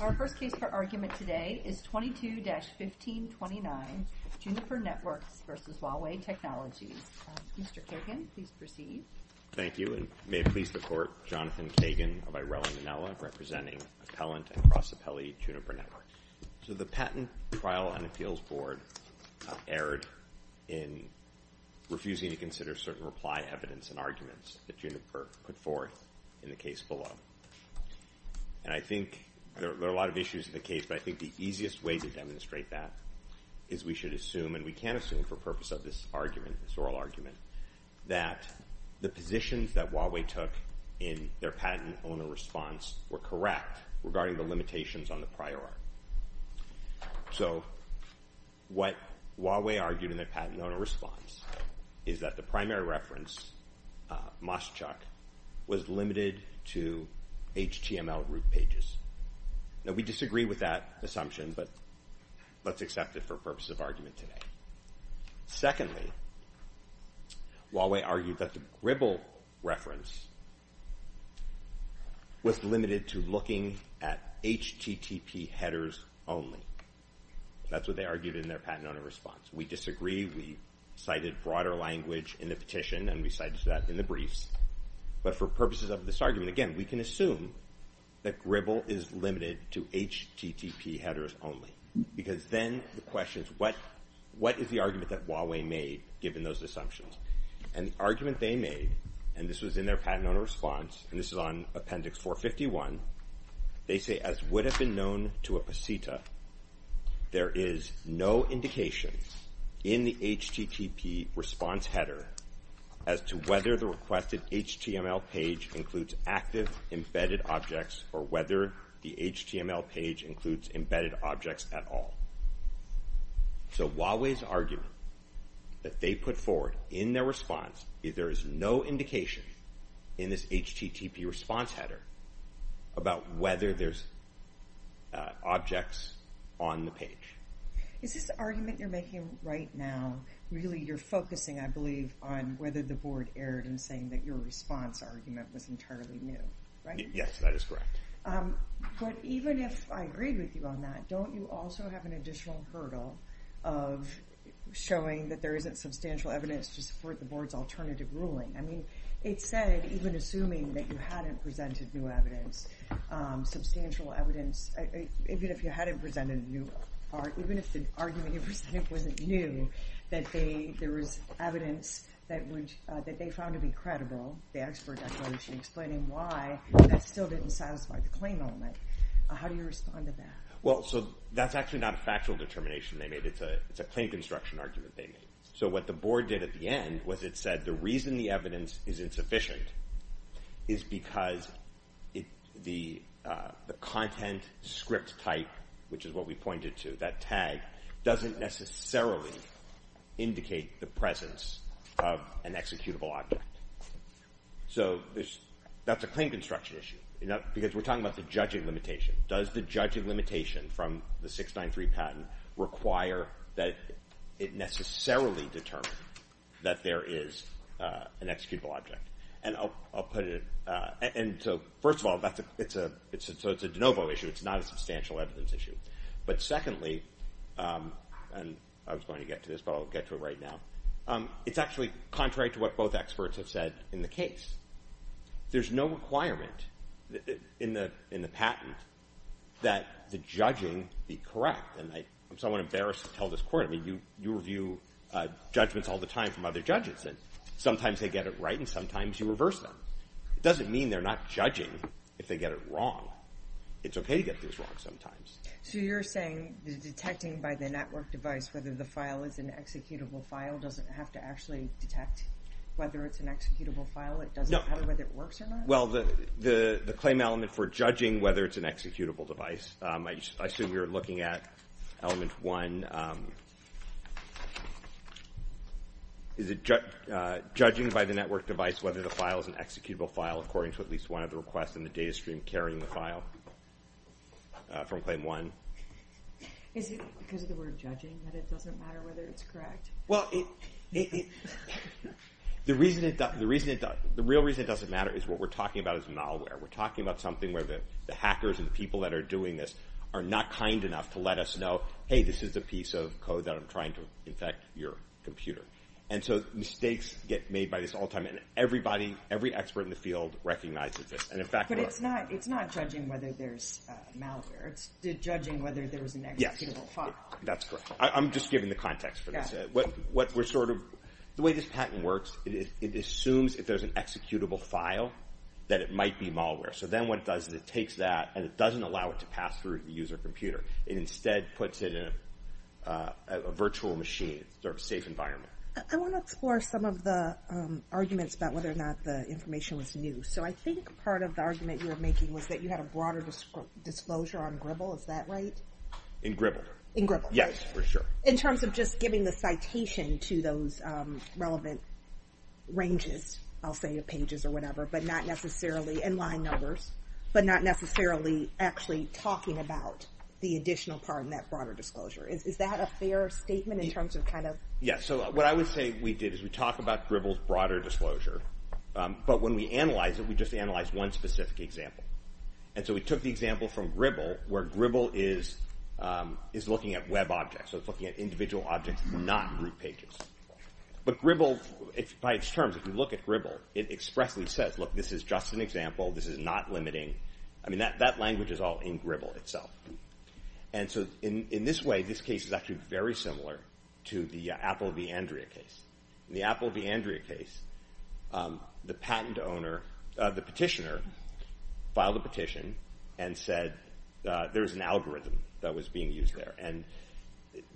Our first case for argument today is 22-1529, Juniper Networks v. Huawei Technologies. Mr. Kagan, please proceed. Thank you, and may it please the Court, Jonathan Kagan of Irela, Manila, representing Appellant and Cross-Appellee Juniper Networks. So the patent trial and appeals board erred in refusing to consider certain reply evidence and arguments that Juniper put forth in the case below. And I think there are a lot of issues in the case, but I think the easiest way to demonstrate that is we should assume, and we can assume for purpose of this oral argument, that the positions that Huawei took in their patent owner response were correct regarding the limitations on the prior art. So what Huawei argued in their patent owner response is that the primary reference, MOSCHUCK, was limited to HTML root pages. Now, we disagree with that assumption, but let's accept it for purpose of argument today. Secondly, Huawei argued that the Gribble reference was limited to looking at HTTP headers only. That's what they argued in their patent owner response. We disagree. We cited broader language in the petition, and we cited that in the briefs, but for purposes of this argument, again, we can assume that Gribble is limited to HTTP headers only, because then the question is, what is the argument that Huawei made, given those assumptions? And the argument they made, and this was in their patent owner response, and this is on Appendix 451, they say, as would have been known to a pasita, there is no indication in the HTTP response header as to whether the requested HTML page includes active embedded objects or whether the HTML page includes embedded objects at all. So Huawei's argument that they put forward in their response is there is no indication in this HTTP response header about whether there's objects on the page. Is this argument you're making right now, really you're focusing, I believe, on whether the board erred in saying that your response argument was entirely new, right? Yes, that is correct. But even if I agreed with you on that, don't you also have an additional hurdle of showing that there isn't substantial evidence to support the board's alternative ruling? I mean, it said, even assuming that you hadn't presented new evidence, substantial evidence, even if you hadn't presented a new part, even if the argument you presented wasn't new, that there was evidence that they found to be credible, they asked for a declaration explaining why, that still didn't satisfy the claim element. How do you respond to that? Well, so that's actually not a factual determination they made. It's a claim construction argument they made. So what the board did at the end was it said the reason the evidence is insufficient is because the content script type, which is what we pointed to, that tag, doesn't necessarily indicate the presence of an executable object. So that's a claim construction issue, because we're talking about the judging limitation. Does the judging limitation from the 693 patent require that it necessarily determine that there is an executable object? And I'll put it, and so first of all, so it's a de novo issue. It's not a substantial evidence issue. But secondly, and I was going to get to this, but I'll get to it right now. It's actually contrary to what both experts have said in the case. There's no requirement in the patent that the judging be correct. And I'm somewhat embarrassed to tell this court. I mean, you review judgments all the time from other judges. Sometimes they get it right, and sometimes you reverse them. It doesn't mean they're not judging if they get it wrong. It's OK to get things wrong sometimes. So you're saying the detecting by the network device whether the file is an executable file doesn't have to actually detect whether it's an executable file. It doesn't matter whether it works or not? Well, the claim element for judging whether it's an executable device, I assume you're judging by the network device whether the file is an executable file according to at least one of the requests in the data stream carrying the file from claim one. Is it because of the word judging that it doesn't matter whether it's correct? Well, the real reason it doesn't matter is what we're talking about is malware. We're talking about something where the hackers and the people that are doing this are not kind enough to let us know, hey, this is a piece of code that I'm trying to infect your computer. And so mistakes get made by this all the time. And everybody, every expert in the field recognizes this. But it's not judging whether there's malware. It's judging whether there is an executable file. That's correct. I'm just giving the context for this. The way this patent works, it assumes if there's an executable file that it might be malware. So then what it does is it takes that and it doesn't allow it to pass through the user computer. It instead puts it in a virtual machine, sort of safe environment. I want to explore some of the arguments about whether or not the information was new. So I think part of the argument you were making was that you had a broader disclosure on Gribble. Is that right? In Gribble. In Gribble. Yes, for sure. In terms of just giving the citation to those relevant ranges, I'll say pages or whatever, but not necessarily in line numbers, but not necessarily actually talking about the additional part in that broader disclosure. Is that a fair statement in terms of kind of? Yeah, so what I would say we did is we talk about Gribble's broader disclosure, but when we analyze it, we just analyze one specific example. And so we took the example from Gribble where Gribble is looking at web objects. So it's looking at individual objects, not group pages. But Gribble, by its terms, if you look at Gribble, it expressly says, look, this is just an example. This is not limiting. I mean, that language is all in Gribble itself. And so in this way, this case is actually very similar to the Apple v. Andrea case. In the Apple v. Andrea case, the patent owner, the petitioner, filed a petition and said there was an algorithm that was being used there. And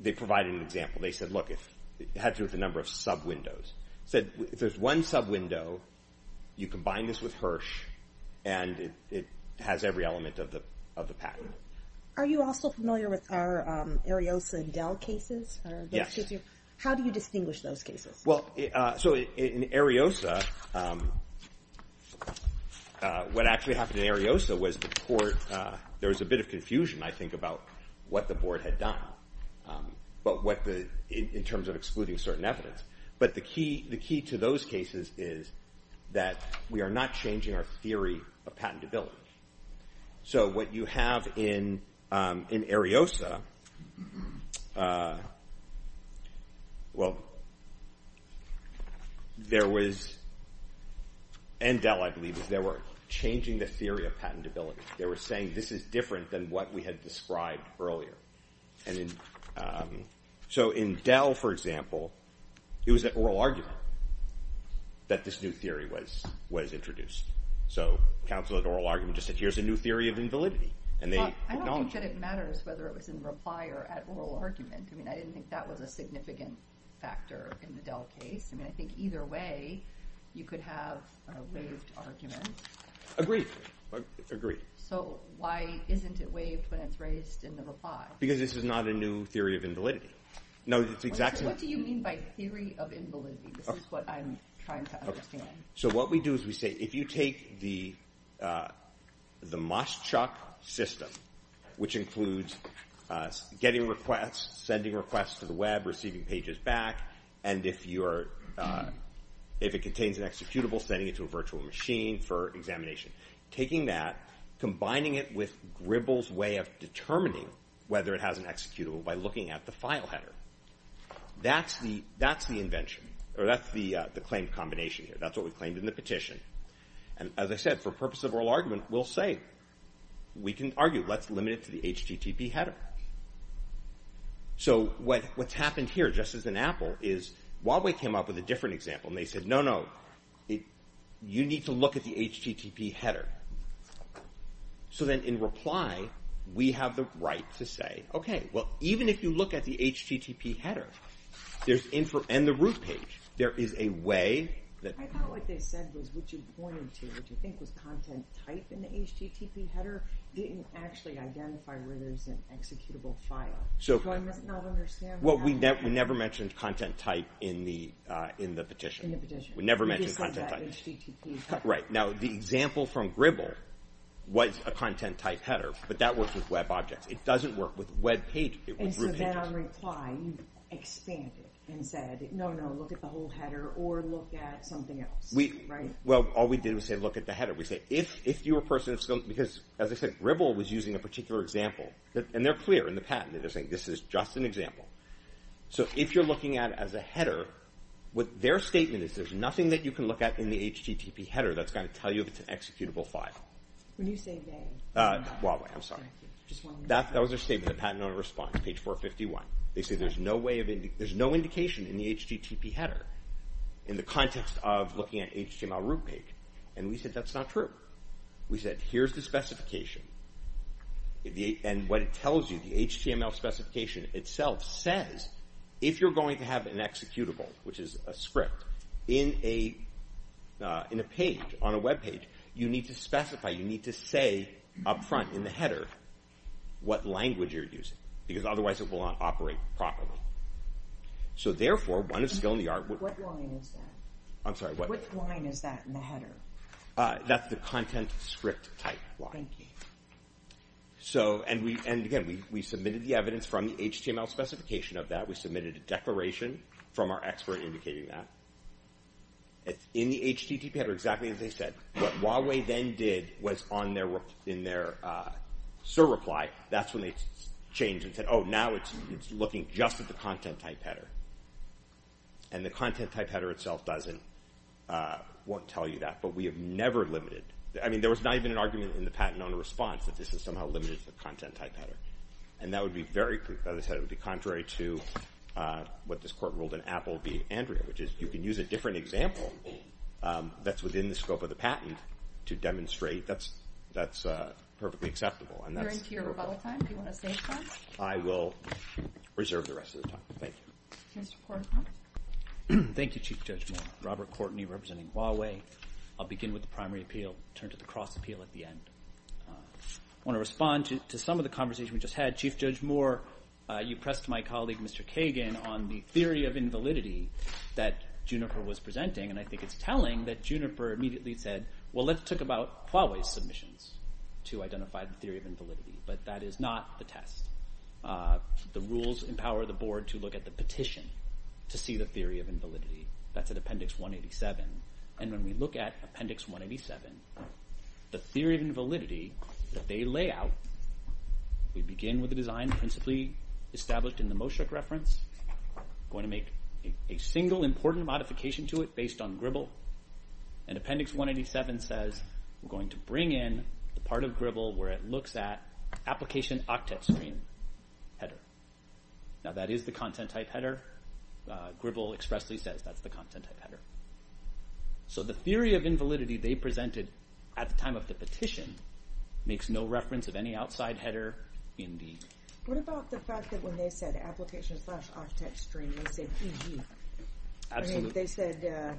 they provided an example. They said, look, if it had to do with the number of sub-windows, said if there's one sub-window, you combine this with Hirsch, and it has every element of the patent. Are you also familiar with our Ariosa and Dell cases? Yes. How do you distinguish those cases? Well, so in Ariosa, what actually happened in Ariosa was there was a bit of confusion, I think, about what the board had done in terms of excluding certain evidence. But the key to those cases is that we are not changing our theory of patentability. So what you have in Ariosa, well, and Dell, I believe, is they were changing the theory of patentability. They were saying this is different than what we had described earlier. So in Dell, for example, it was an oral argument that this new theory was introduced. So counsel at oral argument just said, here's a new theory of invalidity. Well, I don't think that it matters whether it was in reply or at oral argument. I mean, I didn't think that was a significant factor in the Dell case. I mean, I think either way, you could have a waived argument. Agreed, agreed. So why isn't it waived when it's raised in the reply? Because this is not a new theory of invalidity. No, it's exactly. What do you mean by theory of invalidity? This is what I'm trying to understand. So what we do is we say, if you take the Moschuk system, which includes getting requests, sending requests to the web, receiving pages back, and if it contains an executable, sending it to a virtual machine for examination. Taking that, combining it with Gribble's way of determining whether it has an executable by looking at the file header, that's the invention. Or that's the claim combination here. That's what we claimed in the petition. And as I said, for purpose of oral argument, we'll say, we can argue. Let's limit it to the HTTP header. So what's happened here, just as in Apple, is Huawei came up with a different example. They said, no, no. You need to look at the HTTP header. So then in reply, we have the right to say, okay, well, even if you look at the HTTP header, there's info and the root page. There is a way that... I thought what they said was what you pointed to, which I think was content type in the HTTP header, didn't actually identify where there's an executable file. So do I not understand that? Well, we never mentioned content type in the petition. In the petition. We never mentioned content type. You just said that HTTP header. Right. Now, the example from Gribble was a content type header, but that works with web objects. It doesn't work with web pages. It works with root pages. In reply, you expanded and said, no, no, look at the whole header or look at something else. Well, all we did was say, look at the header. We said, if you were a person of skill... Because as I said, Gribble was using a particular example. And they're clear in the patent that they're saying this is just an example. So if you're looking at it as a header, what their statement is, there's nothing that you can look at in the HTTP header that's going to tell you if it's an executable file. When you say they. Huawei, I'm sorry. That was their statement. The patent owner responds, page 451. They say there's no indication in the HTTP header in the context of looking at HTML root page. And we said, that's not true. We said, here's the specification. And what it tells you, the HTML specification itself says, if you're going to have an executable, which is a script in a page, on a web page, you need to specify, you need to say up front in the header what language you're using. Because otherwise it will not operate properly. So therefore, one of skill in the art... What line is that? I'm sorry, what? What line is that in the header? That's the content script type line. Thank you. So, and again, we submitted the evidence from the HTML specification of that. We submitted a declaration from our expert indicating that. It's in the HTTP header, exactly as they said. What Huawei then did was on their, in their SIR reply, that's when they changed and said, oh, now it's looking just at the content type header. And the content type header itself doesn't, won't tell you that. But we have never limited. I mean, there was not even an argument in the patent owner response that this is somehow limited to the content type header. And that would be very, as I said, it would be contrary to what this court ruled in Apple v Andrea, which is, you can use a different example that's within the scope of the patent to demonstrate that's, that's perfectly acceptable. And that's... We're into your rebuttal time. Do you want to save time? I will reserve the rest of the time. Thank you. Mr. Kortenkamp. Thank you, Chief Judge Moore. Robert Kortney representing Huawei. I'll begin with the primary appeal, turn to the cross appeal at the end. I want to respond to some of the conversation we just had. Chief Judge Moore, you pressed my colleague, Mr. Kagan, on the theory of invalidity that Juniper was presenting. And I think it's telling that Juniper immediately said, well, let's talk about Huawei's submissions to identify the theory of invalidity. But that is not the test. The rules empower the board to look at the petition to see the theory of invalidity. That's an appendix 187. And when we look at appendix 187, the theory of invalidity that they lay out, we begin with the design principally established in the Moshuk reference, going to make a single important modification to it based on Gribble. And appendix 187 says we're going to bring in the part of Gribble where it looks at application octet screen header. Now, that is the content type header. Gribble expressly says that's the content type header. So the theory of invalidity they presented at the time of the petition makes no reference of any outside header indeed. What about the fact that when they said application slash octet screen, they said EG? I mean, they said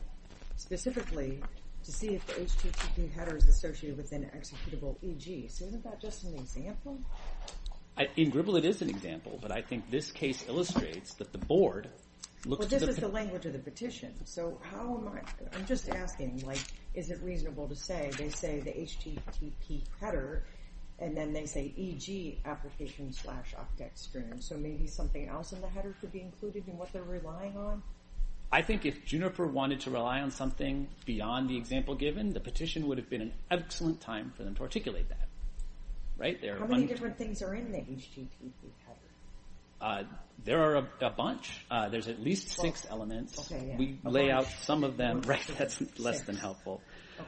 specifically to see if the HTTP header is associated with an executable EG. So isn't that just an example? In Gribble, it is an example. But I think this case illustrates that the board looks at the language of the petition. So how am I I'm just asking, like, is it reasonable to say they say the HTTP header and then they say EG application slash octet screen? So maybe something else in the header could be included in what they're relying on? I think if Juniper wanted to rely on something beyond the example given, the petition would have been an excellent time for them to articulate that. How many different things are in the HTTP header? There are a bunch. There's at least six elements. We lay out some of them. That's less than helpful.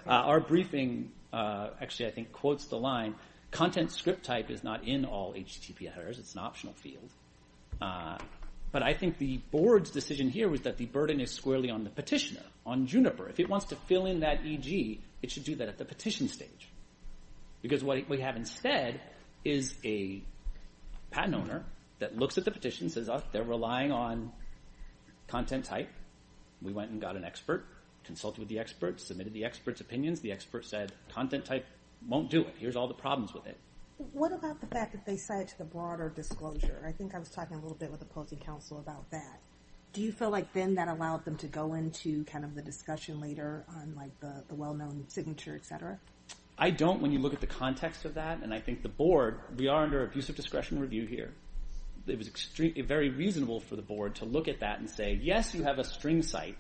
Our briefing actually, I think, quotes the line, content script type is not in all HTTP headers. It's an optional field. But I think the board's decision here was that the burden is squarely on the petitioner, on Juniper. If it wants to fill in that EG, it should do that at the petition stage. Because what we have instead is a patent owner that looks at the petition, says they're relying on content type. We went and got an expert, consulted with the expert, submitted the expert's opinions. The expert said content type won't do it. Here's all the problems with it. What about the fact that they said to the broader disclosure? I think I was talking a little bit with opposing counsel about that. Do you feel like then that allowed them to go into the discussion later on the well-known signature, et cetera? I don't when you look at the context of that. And I think the board, we are under abusive discretion review here. It was extremely very reasonable for the board to look at that and say, yes, you have a string site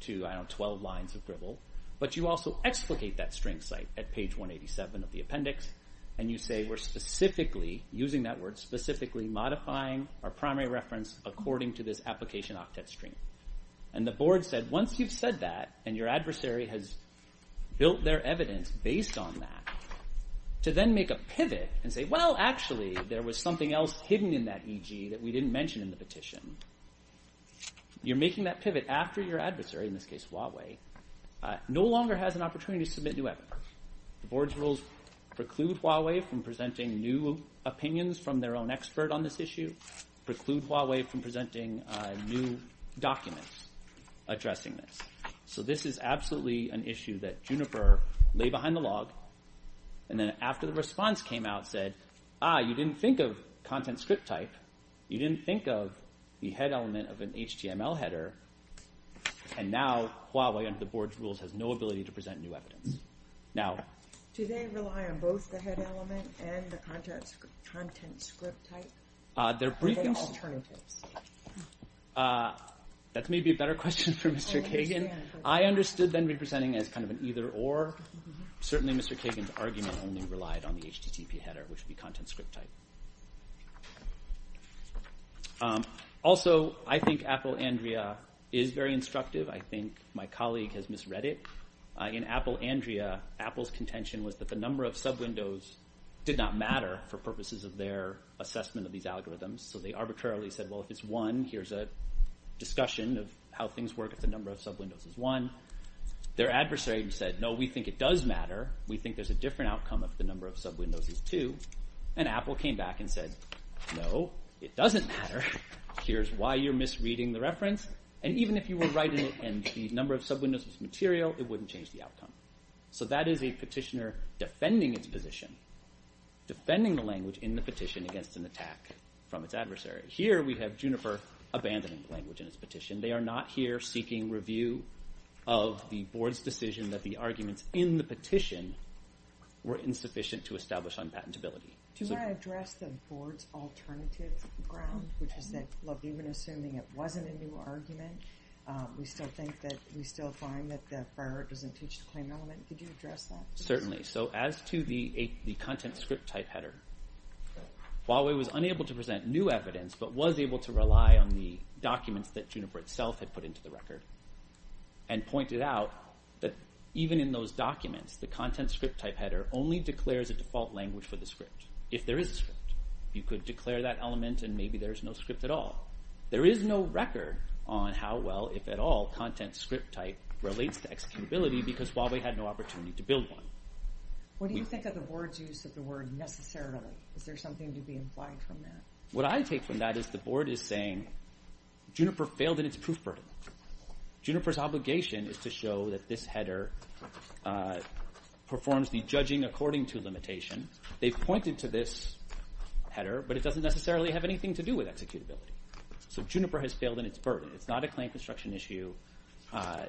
to 12 lines of gribble, but you also explicate that string site at page 187 of the appendix. And you say we're specifically, using that word specifically, modifying our primary reference according to this application octet stream. And the board said, once you've said that, and your adversary has built their evidence based on that, to then make a pivot and say, well, actually, there was something else hidden in that EG that we didn't mention in the petition. You're making that pivot after your adversary, in this case, Huawei, no longer has an opportunity to submit new evidence. The board's rules preclude Huawei from presenting new opinions from their own expert on this issue, preclude Huawei from presenting new documents addressing this. So this is absolutely an issue that Juniper lay behind the log. And then after the response came out, said, ah, you didn't think of content script type. You didn't think of the head element of an HTML header. And now Huawei, under the board's rules, has no ability to present new evidence. Now, do they rely on both the head element and the content script type? They're bringing alternatives. That's maybe a better question for Mr. Kagan. I understood them representing as kind of an either or. Certainly, Mr. Kagan's argument only relied on the HTTP header, which would be content script type. Also, I think Apple Andrea is very instructive. I think my colleague has misread it. In Apple Andrea, Apple's contention was that the number of sub-windows did not matter for purposes of their assessment of these algorithms. So they arbitrarily said, well, if it's one, here's a discussion of how things work if the number of sub-windows is one. Their adversary said, no, we think it does matter. We think there's a different outcome if the number of sub-windows is two. And Apple came back and said, no, it doesn't matter. Here's why you're misreading the reference. And even if you were right and the number of sub-windows was material, it wouldn't change the outcome. So that is a petitioner defending its position, defending the language in the petition against an attack from its adversary. Here, we have Juniper abandoning the language in its petition. They are not here seeking review of the board's decision that the arguments in the petition were insufficient to establish unpatentability. Do you want to address the board's alternative ground, which is that even assuming it wasn't a new argument, we still find that the firework doesn't teach the claim element. Could you address that? Certainly. So as to the content script type header, Huawei was unable to present new evidence, but was able to rely on the documents that Juniper itself had put into the record and pointed out that even in those documents, the content script type header only declares a default language for the script. If there is a script, you could declare that element and maybe there's no script at all. There is no record on how well, if at all, content script type relates to executability, because Huawei had no opportunity to build one. What do you think of the board's use of the word necessarily? Is there something to be implied from that? What I take from that is the board is saying, Juniper failed in its proof burden. Juniper's obligation is to show that this header performs the judging according to limitation. They've pointed to this header, but it doesn't necessarily have anything to do with executability. So Juniper has failed in its burden. It's not a claim construction issue.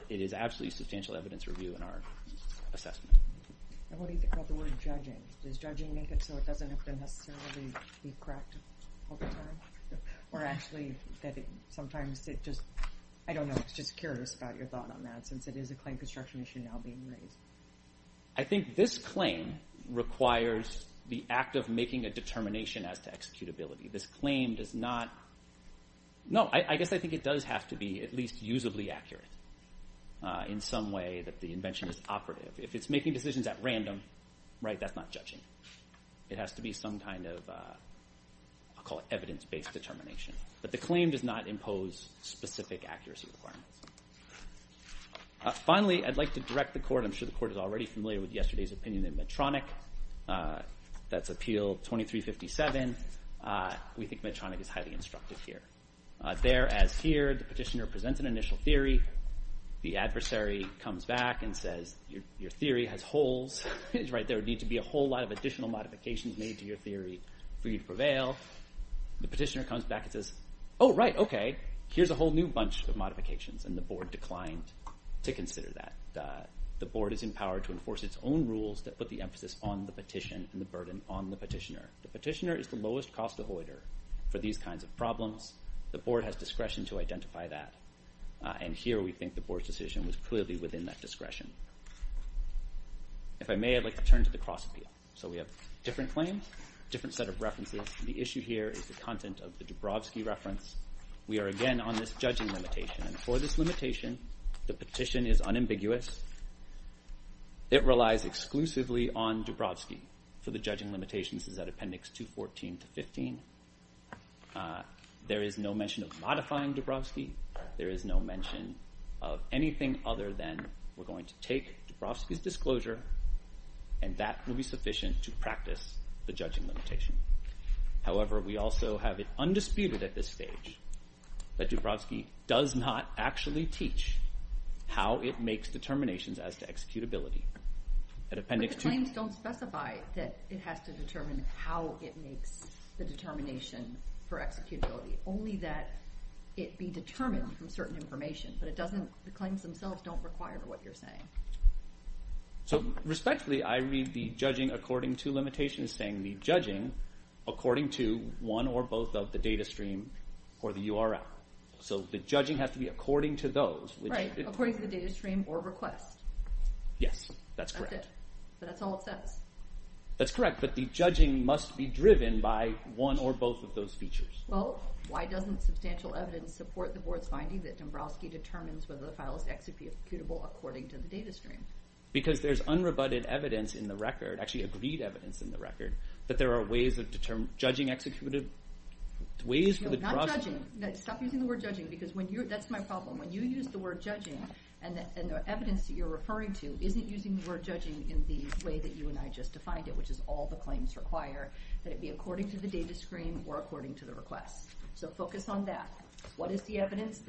It is absolutely substantial evidence review in our assessment. And what do you think about the word judging? Does judging make it so it doesn't have to necessarily be correct all the time? Or actually, sometimes it just, I don't know, I was just curious about your thought on that, since it is a claim construction issue now being raised. I think this claim requires the act of making a determination as to executability. This claim does not, no, I guess I think it does have to be at least usably accurate in some way that the invention is operative. If it's making decisions at random, right, that's not judging. It has to be some kind of, I'll call it evidence-based determination. But the claim does not impose specific accuracy requirements. Finally, I'd like to direct the Court, I'm sure the Court is already familiar with yesterday's opinion in Medtronic, that's Appeal 2357. We think Medtronic is highly instructive here. There, as here, the petitioner presents an initial theory. The adversary comes back and says, your theory has holes, right, there would need to be a whole lot of additional modifications made to your theory for you to prevail. The petitioner comes back and says, oh, right, okay, here's a whole new bunch of modifications. And the Board declined to consider that. The Board is empowered to enforce its own rules that put the emphasis on the petition and the burden on the petitioner. The petitioner is the lowest cost avoider for these kinds of problems. The Board has discretion to identify that. And here we think the Board's decision was clearly within that discretion. If I may, I'd like to turn to the cross-appeal. So we have different claims, different set of references. The issue here is the content of the Dubrovsky reference. We are again on this judging limitation. And for this limitation, the petition is unambiguous. It relies exclusively on Dubrovsky for the judging limitation. This is at Appendix 214 to 15. There is no mention of modifying Dubrovsky. There is no mention of anything other than we're going to take Dubrovsky's disclosure and that will be sufficient to practice the judging limitation. However, we also have it undisputed at this stage that Dubrovsky does not actually teach how it makes determinations as to executability. At Appendix 214— But the claims don't specify that it has to determine how it makes the determination for executability, only that it be determined from certain information. The claims themselves don't require what you're saying. So respectfully, I read the judging according to limitations saying the judging according to one or both of the data stream or the URL. So the judging has to be according to those. Right, according to the data stream or request. Yes, that's correct. But that's all it says. That's correct. But the judging must be driven by one or both of those features. Well, why doesn't substantial evidence support the board's finding that Dubrovsky determines whether the file is executable according to the data stream? Because there's unrebutted evidence in the record, actually agreed evidence in the record, that there are ways of judging executive— No, not judging. Stop using the word judging because when you're— that's my problem. When you use the word judging and the evidence that you're referring to isn't using the word judging in the way that you and I just defined it, which is all the claims require that it be according to the data screen or according to the request. So focus on that. What is the evidence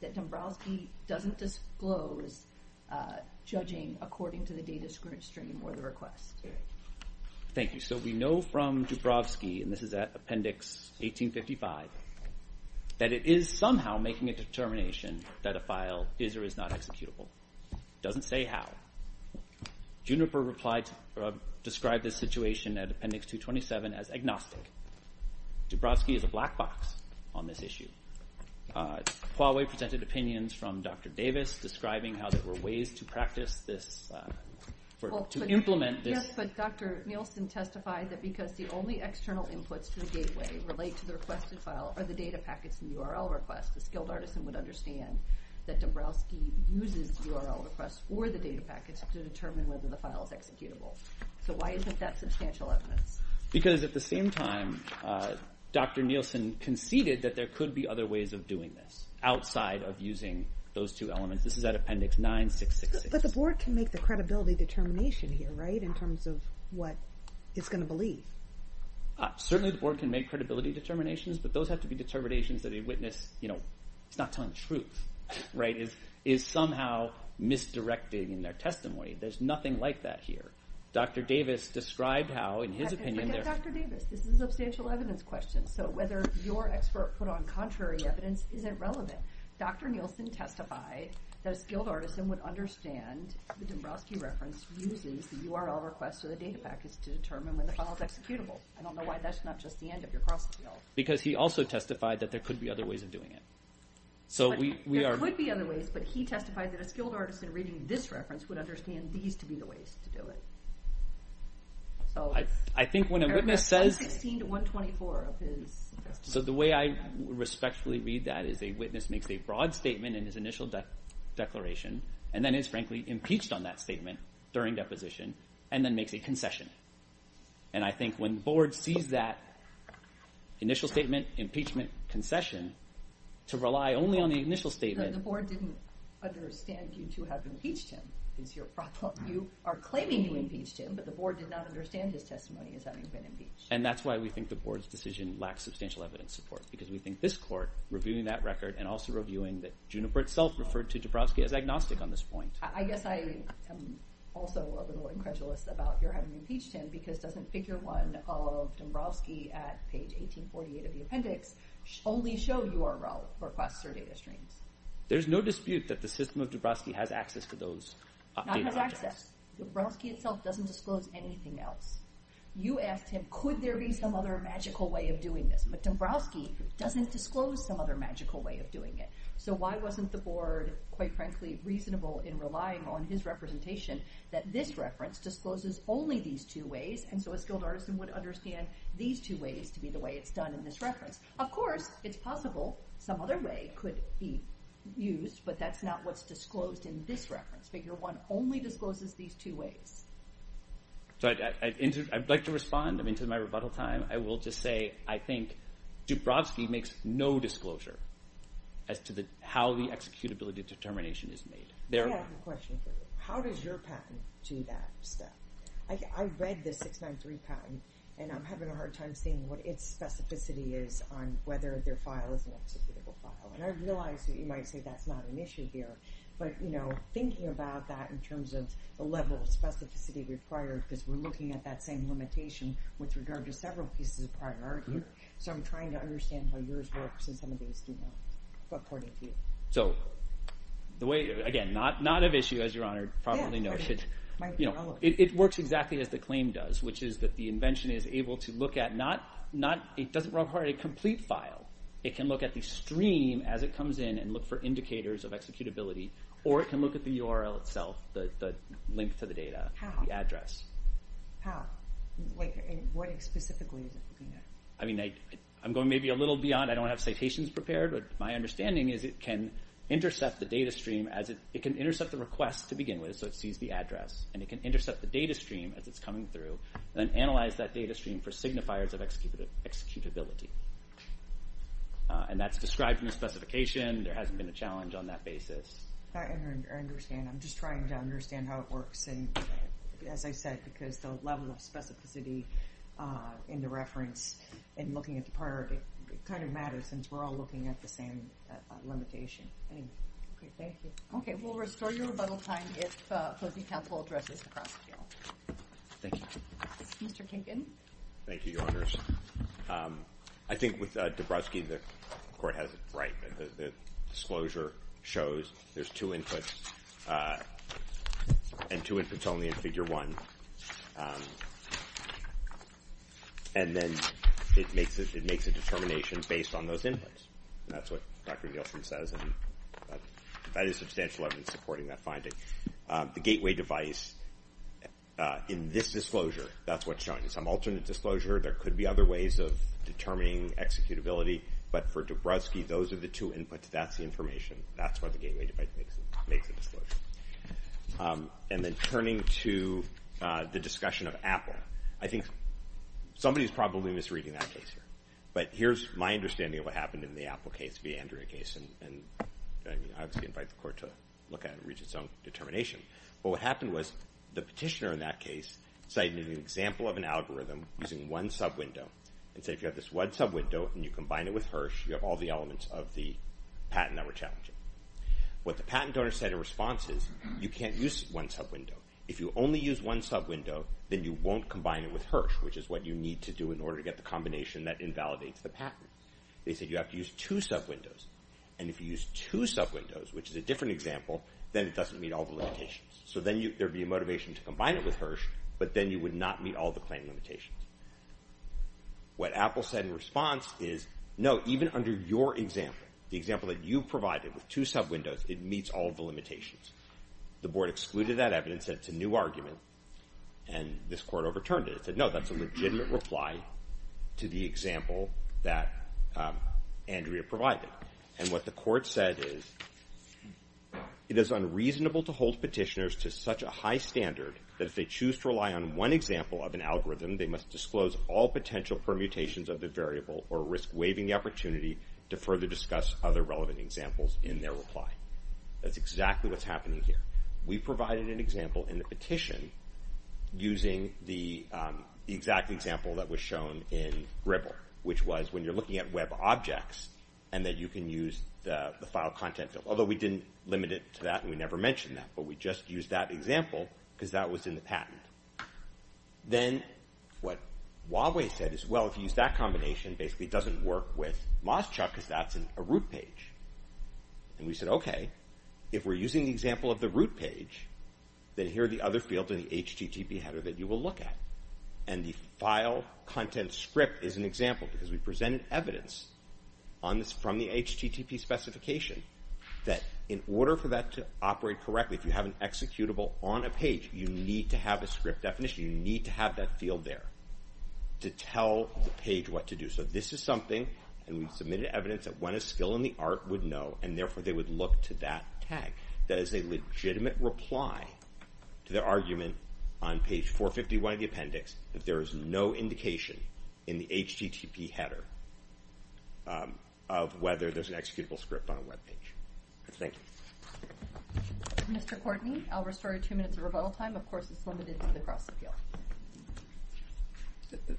that Dubrovsky doesn't disclose judging according to the data stream or the request? Thank you. So we know from Dubrovsky— and this is at Appendix 1855— that it is somehow making a determination that a file is or is not executable. It doesn't say how. Juniper described this situation at Appendix 227 as agnostic. Dubrovsky is a black box on this issue. Huawei presented opinions from Dr. Davis describing how there were ways to practice this— to implement this— Yes, but Dr. Nielsen testified that because the only external inputs to the gateway relate to the requested file are the data packets and URL requests, a skilled artisan would understand that Dubrovsky uses URL requests or the data packets to determine whether the file is executable. So why isn't that substantial evidence? Because at the same time, Dr. Nielsen conceded that there could be other ways of doing this outside of using those two elements. This is at Appendix 9666. But the board can make the credibility determination here, right? In terms of what it's going to believe. Certainly, the board can make credibility determinations, but those have to be determinations that a witness— you know, it's not telling the truth, right? It is somehow misdirecting in their testimony. There's nothing like that here. Dr. Davis described how, in his opinion— Dr. Davis, this is a substantial evidence question. So whether your expert put on contrary evidence isn't relevant. Dr. Nielsen testified that a skilled artisan would understand the Dubrovsky reference uses the URL requests or the data packets to determine when the file is executable. I don't know why that's not just the end of your cross appeal. Because he also testified that there could be other ways of doing it. So we are— There could be other ways, but he testified that a skilled artisan reading this reference would understand these to be the ways to do it. I think when a witness says— So the way I respectfully read that is a witness makes a broad statement in his initial declaration, and then is, frankly, impeached on that statement during deposition, and then makes a concession. And I think when board sees that initial statement, impeachment, concession, to rely only on the initial statement— The board didn't understand you to have impeached him, is your problem. You are claiming you impeached him, but the board did not understand his testimony as having been impeached. And that's why we think the board's decision lacks substantial evidence support, because we think this court, reviewing that record, and also reviewing that Juniper itself referred to Dabrowski as agnostic on this point— I guess I am also a little incredulous about your having impeached him, because doesn't figure one of Dabrowski at page 1848 of the appendix only show URL requests or data streams? There's no dispute that the system of Dabrowski has access to those— Not has access. Dabrowski itself doesn't disclose anything else. You asked him, could there be some other magical way of doing this? But Dabrowski doesn't disclose some other magical way of doing it. So why wasn't the board, quite frankly, reasonable in relying on his representation that this reference discloses only these two ways, and so a skilled artisan would understand these two ways to be the way it's done in this reference? Of course, it's possible some other way could be used, but that's not what's disclosed in this reference. Figure one only discloses these two ways. So I'd like to respond. I'm into my rebuttal time. I will just say I think Dabrowski makes no disclosure as to how the executability determination is made. Yeah, I have a question for you. How does your patent do that stuff? I read the 693 patent, and I'm having a hard time seeing what its specificity is on whether their file is an executable file. And I realize that you might say that's not an issue here, but thinking about that in terms of the level of specificity required, because we're looking at that same limitation with regard to several pieces of prior art here. So I'm trying to understand how yours works and some of these, according to you. So the way, again, not of issue, as your Honor probably knows. Yeah, it might be relevant. It works exactly as the claim does, which is that the invention is able to look at, not, it doesn't require a complete file. It can look at the stream as it comes in and look for indicators of executability, or it can look at the URL itself, the link to the data, the address. How? Like, what specifically is it looking at? I mean, I'm going maybe a little beyond. I don't have citations prepared, but my understanding is it can intercept the data stream as it, it can intercept the request to begin with, so it sees the address, and it can intercept the data stream as it's coming through, and then analyze that data stream for signifiers of executability. And that's described in the specification. There hasn't been a challenge on that basis. I understand. I'm just trying to understand how it works, and as I said, because the level of specificity in the reference and looking at the prior, it kind of matters, since we're all looking at the same limitation. Anyway. Okay, thank you. Okay, we'll restore your rebuttal time if opposing counsel addresses the cross appeal. Thank you. Mr. Kinkin. Thank you, Your Honors. I think with Dabrowski, the court has it right. The disclosure shows there's two inputs. And two inputs only in figure one. And then it makes a determination based on those inputs. And that's what Dr. Nielsen says, and that is substantial. I've been supporting that finding. The gateway device in this disclosure, that's what's showing. Some alternate disclosure, there could be other ways of determining executability, but for Dabrowski, those are the two inputs. That's the information. That's what the gateway device makes, makes the disclosure. And then turning to the discussion of Apple. I think somebody's probably misreading that case here. But here's my understanding of what happened in the Apple case, the Andrea case. And I obviously invite the court to look at it and reach its own determination. But what happened was, the petitioner in that case cited an example of an algorithm using one sub-window. And say, if you have this one sub-window and you combine it with Hirsch, you have all the elements of the patent that we're challenging. What the patent donor said in response is, you can't use one sub-window. If you only use one sub-window, then you won't combine it with Hirsch, which is what you need to do in order to get the combination that invalidates the patent. They said you have to use two sub-windows. And if you use two sub-windows, which is a different example, then it doesn't meet all the limitations. So then there'd be a motivation to combine it with Hirsch, but then you would not meet all the claim limitations. What Apple said in response is, no, even under your example, the example that you provided with two sub-windows, it meets all of the limitations. The board excluded that evidence that it's a new argument, and this court overturned it. It said, no, that's a legitimate reply to the example that Andrea provided. And what the court said is, it is unreasonable to hold petitioners to such a high standard that if they choose to rely on one example of an algorithm, they must disclose all potential permutations of the variable or risk waiving the opportunity to further discuss other relevant examples in their reply. That's exactly what's happening here. We provided an example in the petition using the exact example that was shown in Gribble, which was when you're looking at web objects and that you can use the file content, although we didn't limit it to that and we never mentioned that, but we just used that example because that was in the patent. Then what Huawei said is, well, if you use that combination, basically it doesn't work with MozChuck because that's a root page. And we said, okay, if we're using the example of the root page, then here are the other fields in the HTTP header that you will look at. And the file content script is an example because we presented evidence from the HTTP specification that in order for that to operate correctly, if you have an executable on a page, you need to have a script definition. You need to have that field there to tell the page what to do. So this is something, and we've submitted evidence that when a skill in the art would know, therefore they would look to that tag. That is a legitimate reply to their argument on page 451 of the appendix that there is no indication in the HTTP header of whether there's an executable script on a webpage. Thank you. Mr. Courtney, I'll restore your two minutes of rebuttal time. Of course, it's limited to the cross appeal.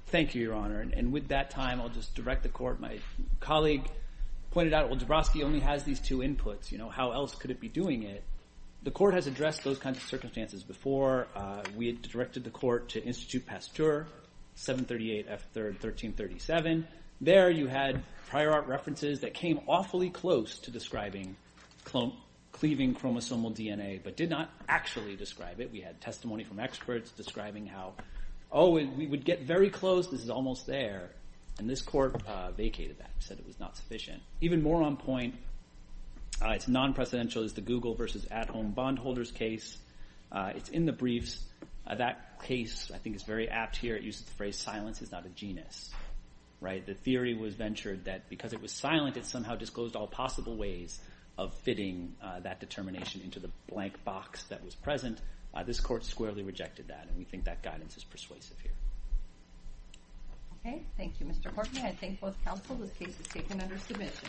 Thank you, Your Honor. And with that time, I'll just direct the court. My colleague pointed out, well, Dabrowski only has these two inputs. How else could it be doing it? The court has addressed those kinds of circumstances before. We had directed the court to Institute Pasteur, 738 F. 1337. There you had prior art references that came awfully close to describing cleaving chromosomal DNA, but did not actually describe it. We had testimony from experts describing how, oh, we would get very close. This is almost there. And this court vacated that and said it was not sufficient. Even more on point, it's non-precedential, is the Google versus at-home bondholders case. It's in the briefs. That case, I think, is very apt here. It uses the phrase, silence is not a genus. The theory was ventured that because it was silent, it somehow disclosed all possible ways of fitting that determination into the blank box that was present. This court squarely rejected that, and we think that guidance is persuasive here. Okay, thank you, Mr. Courtney. I thank both counsel. This case is taken under submission.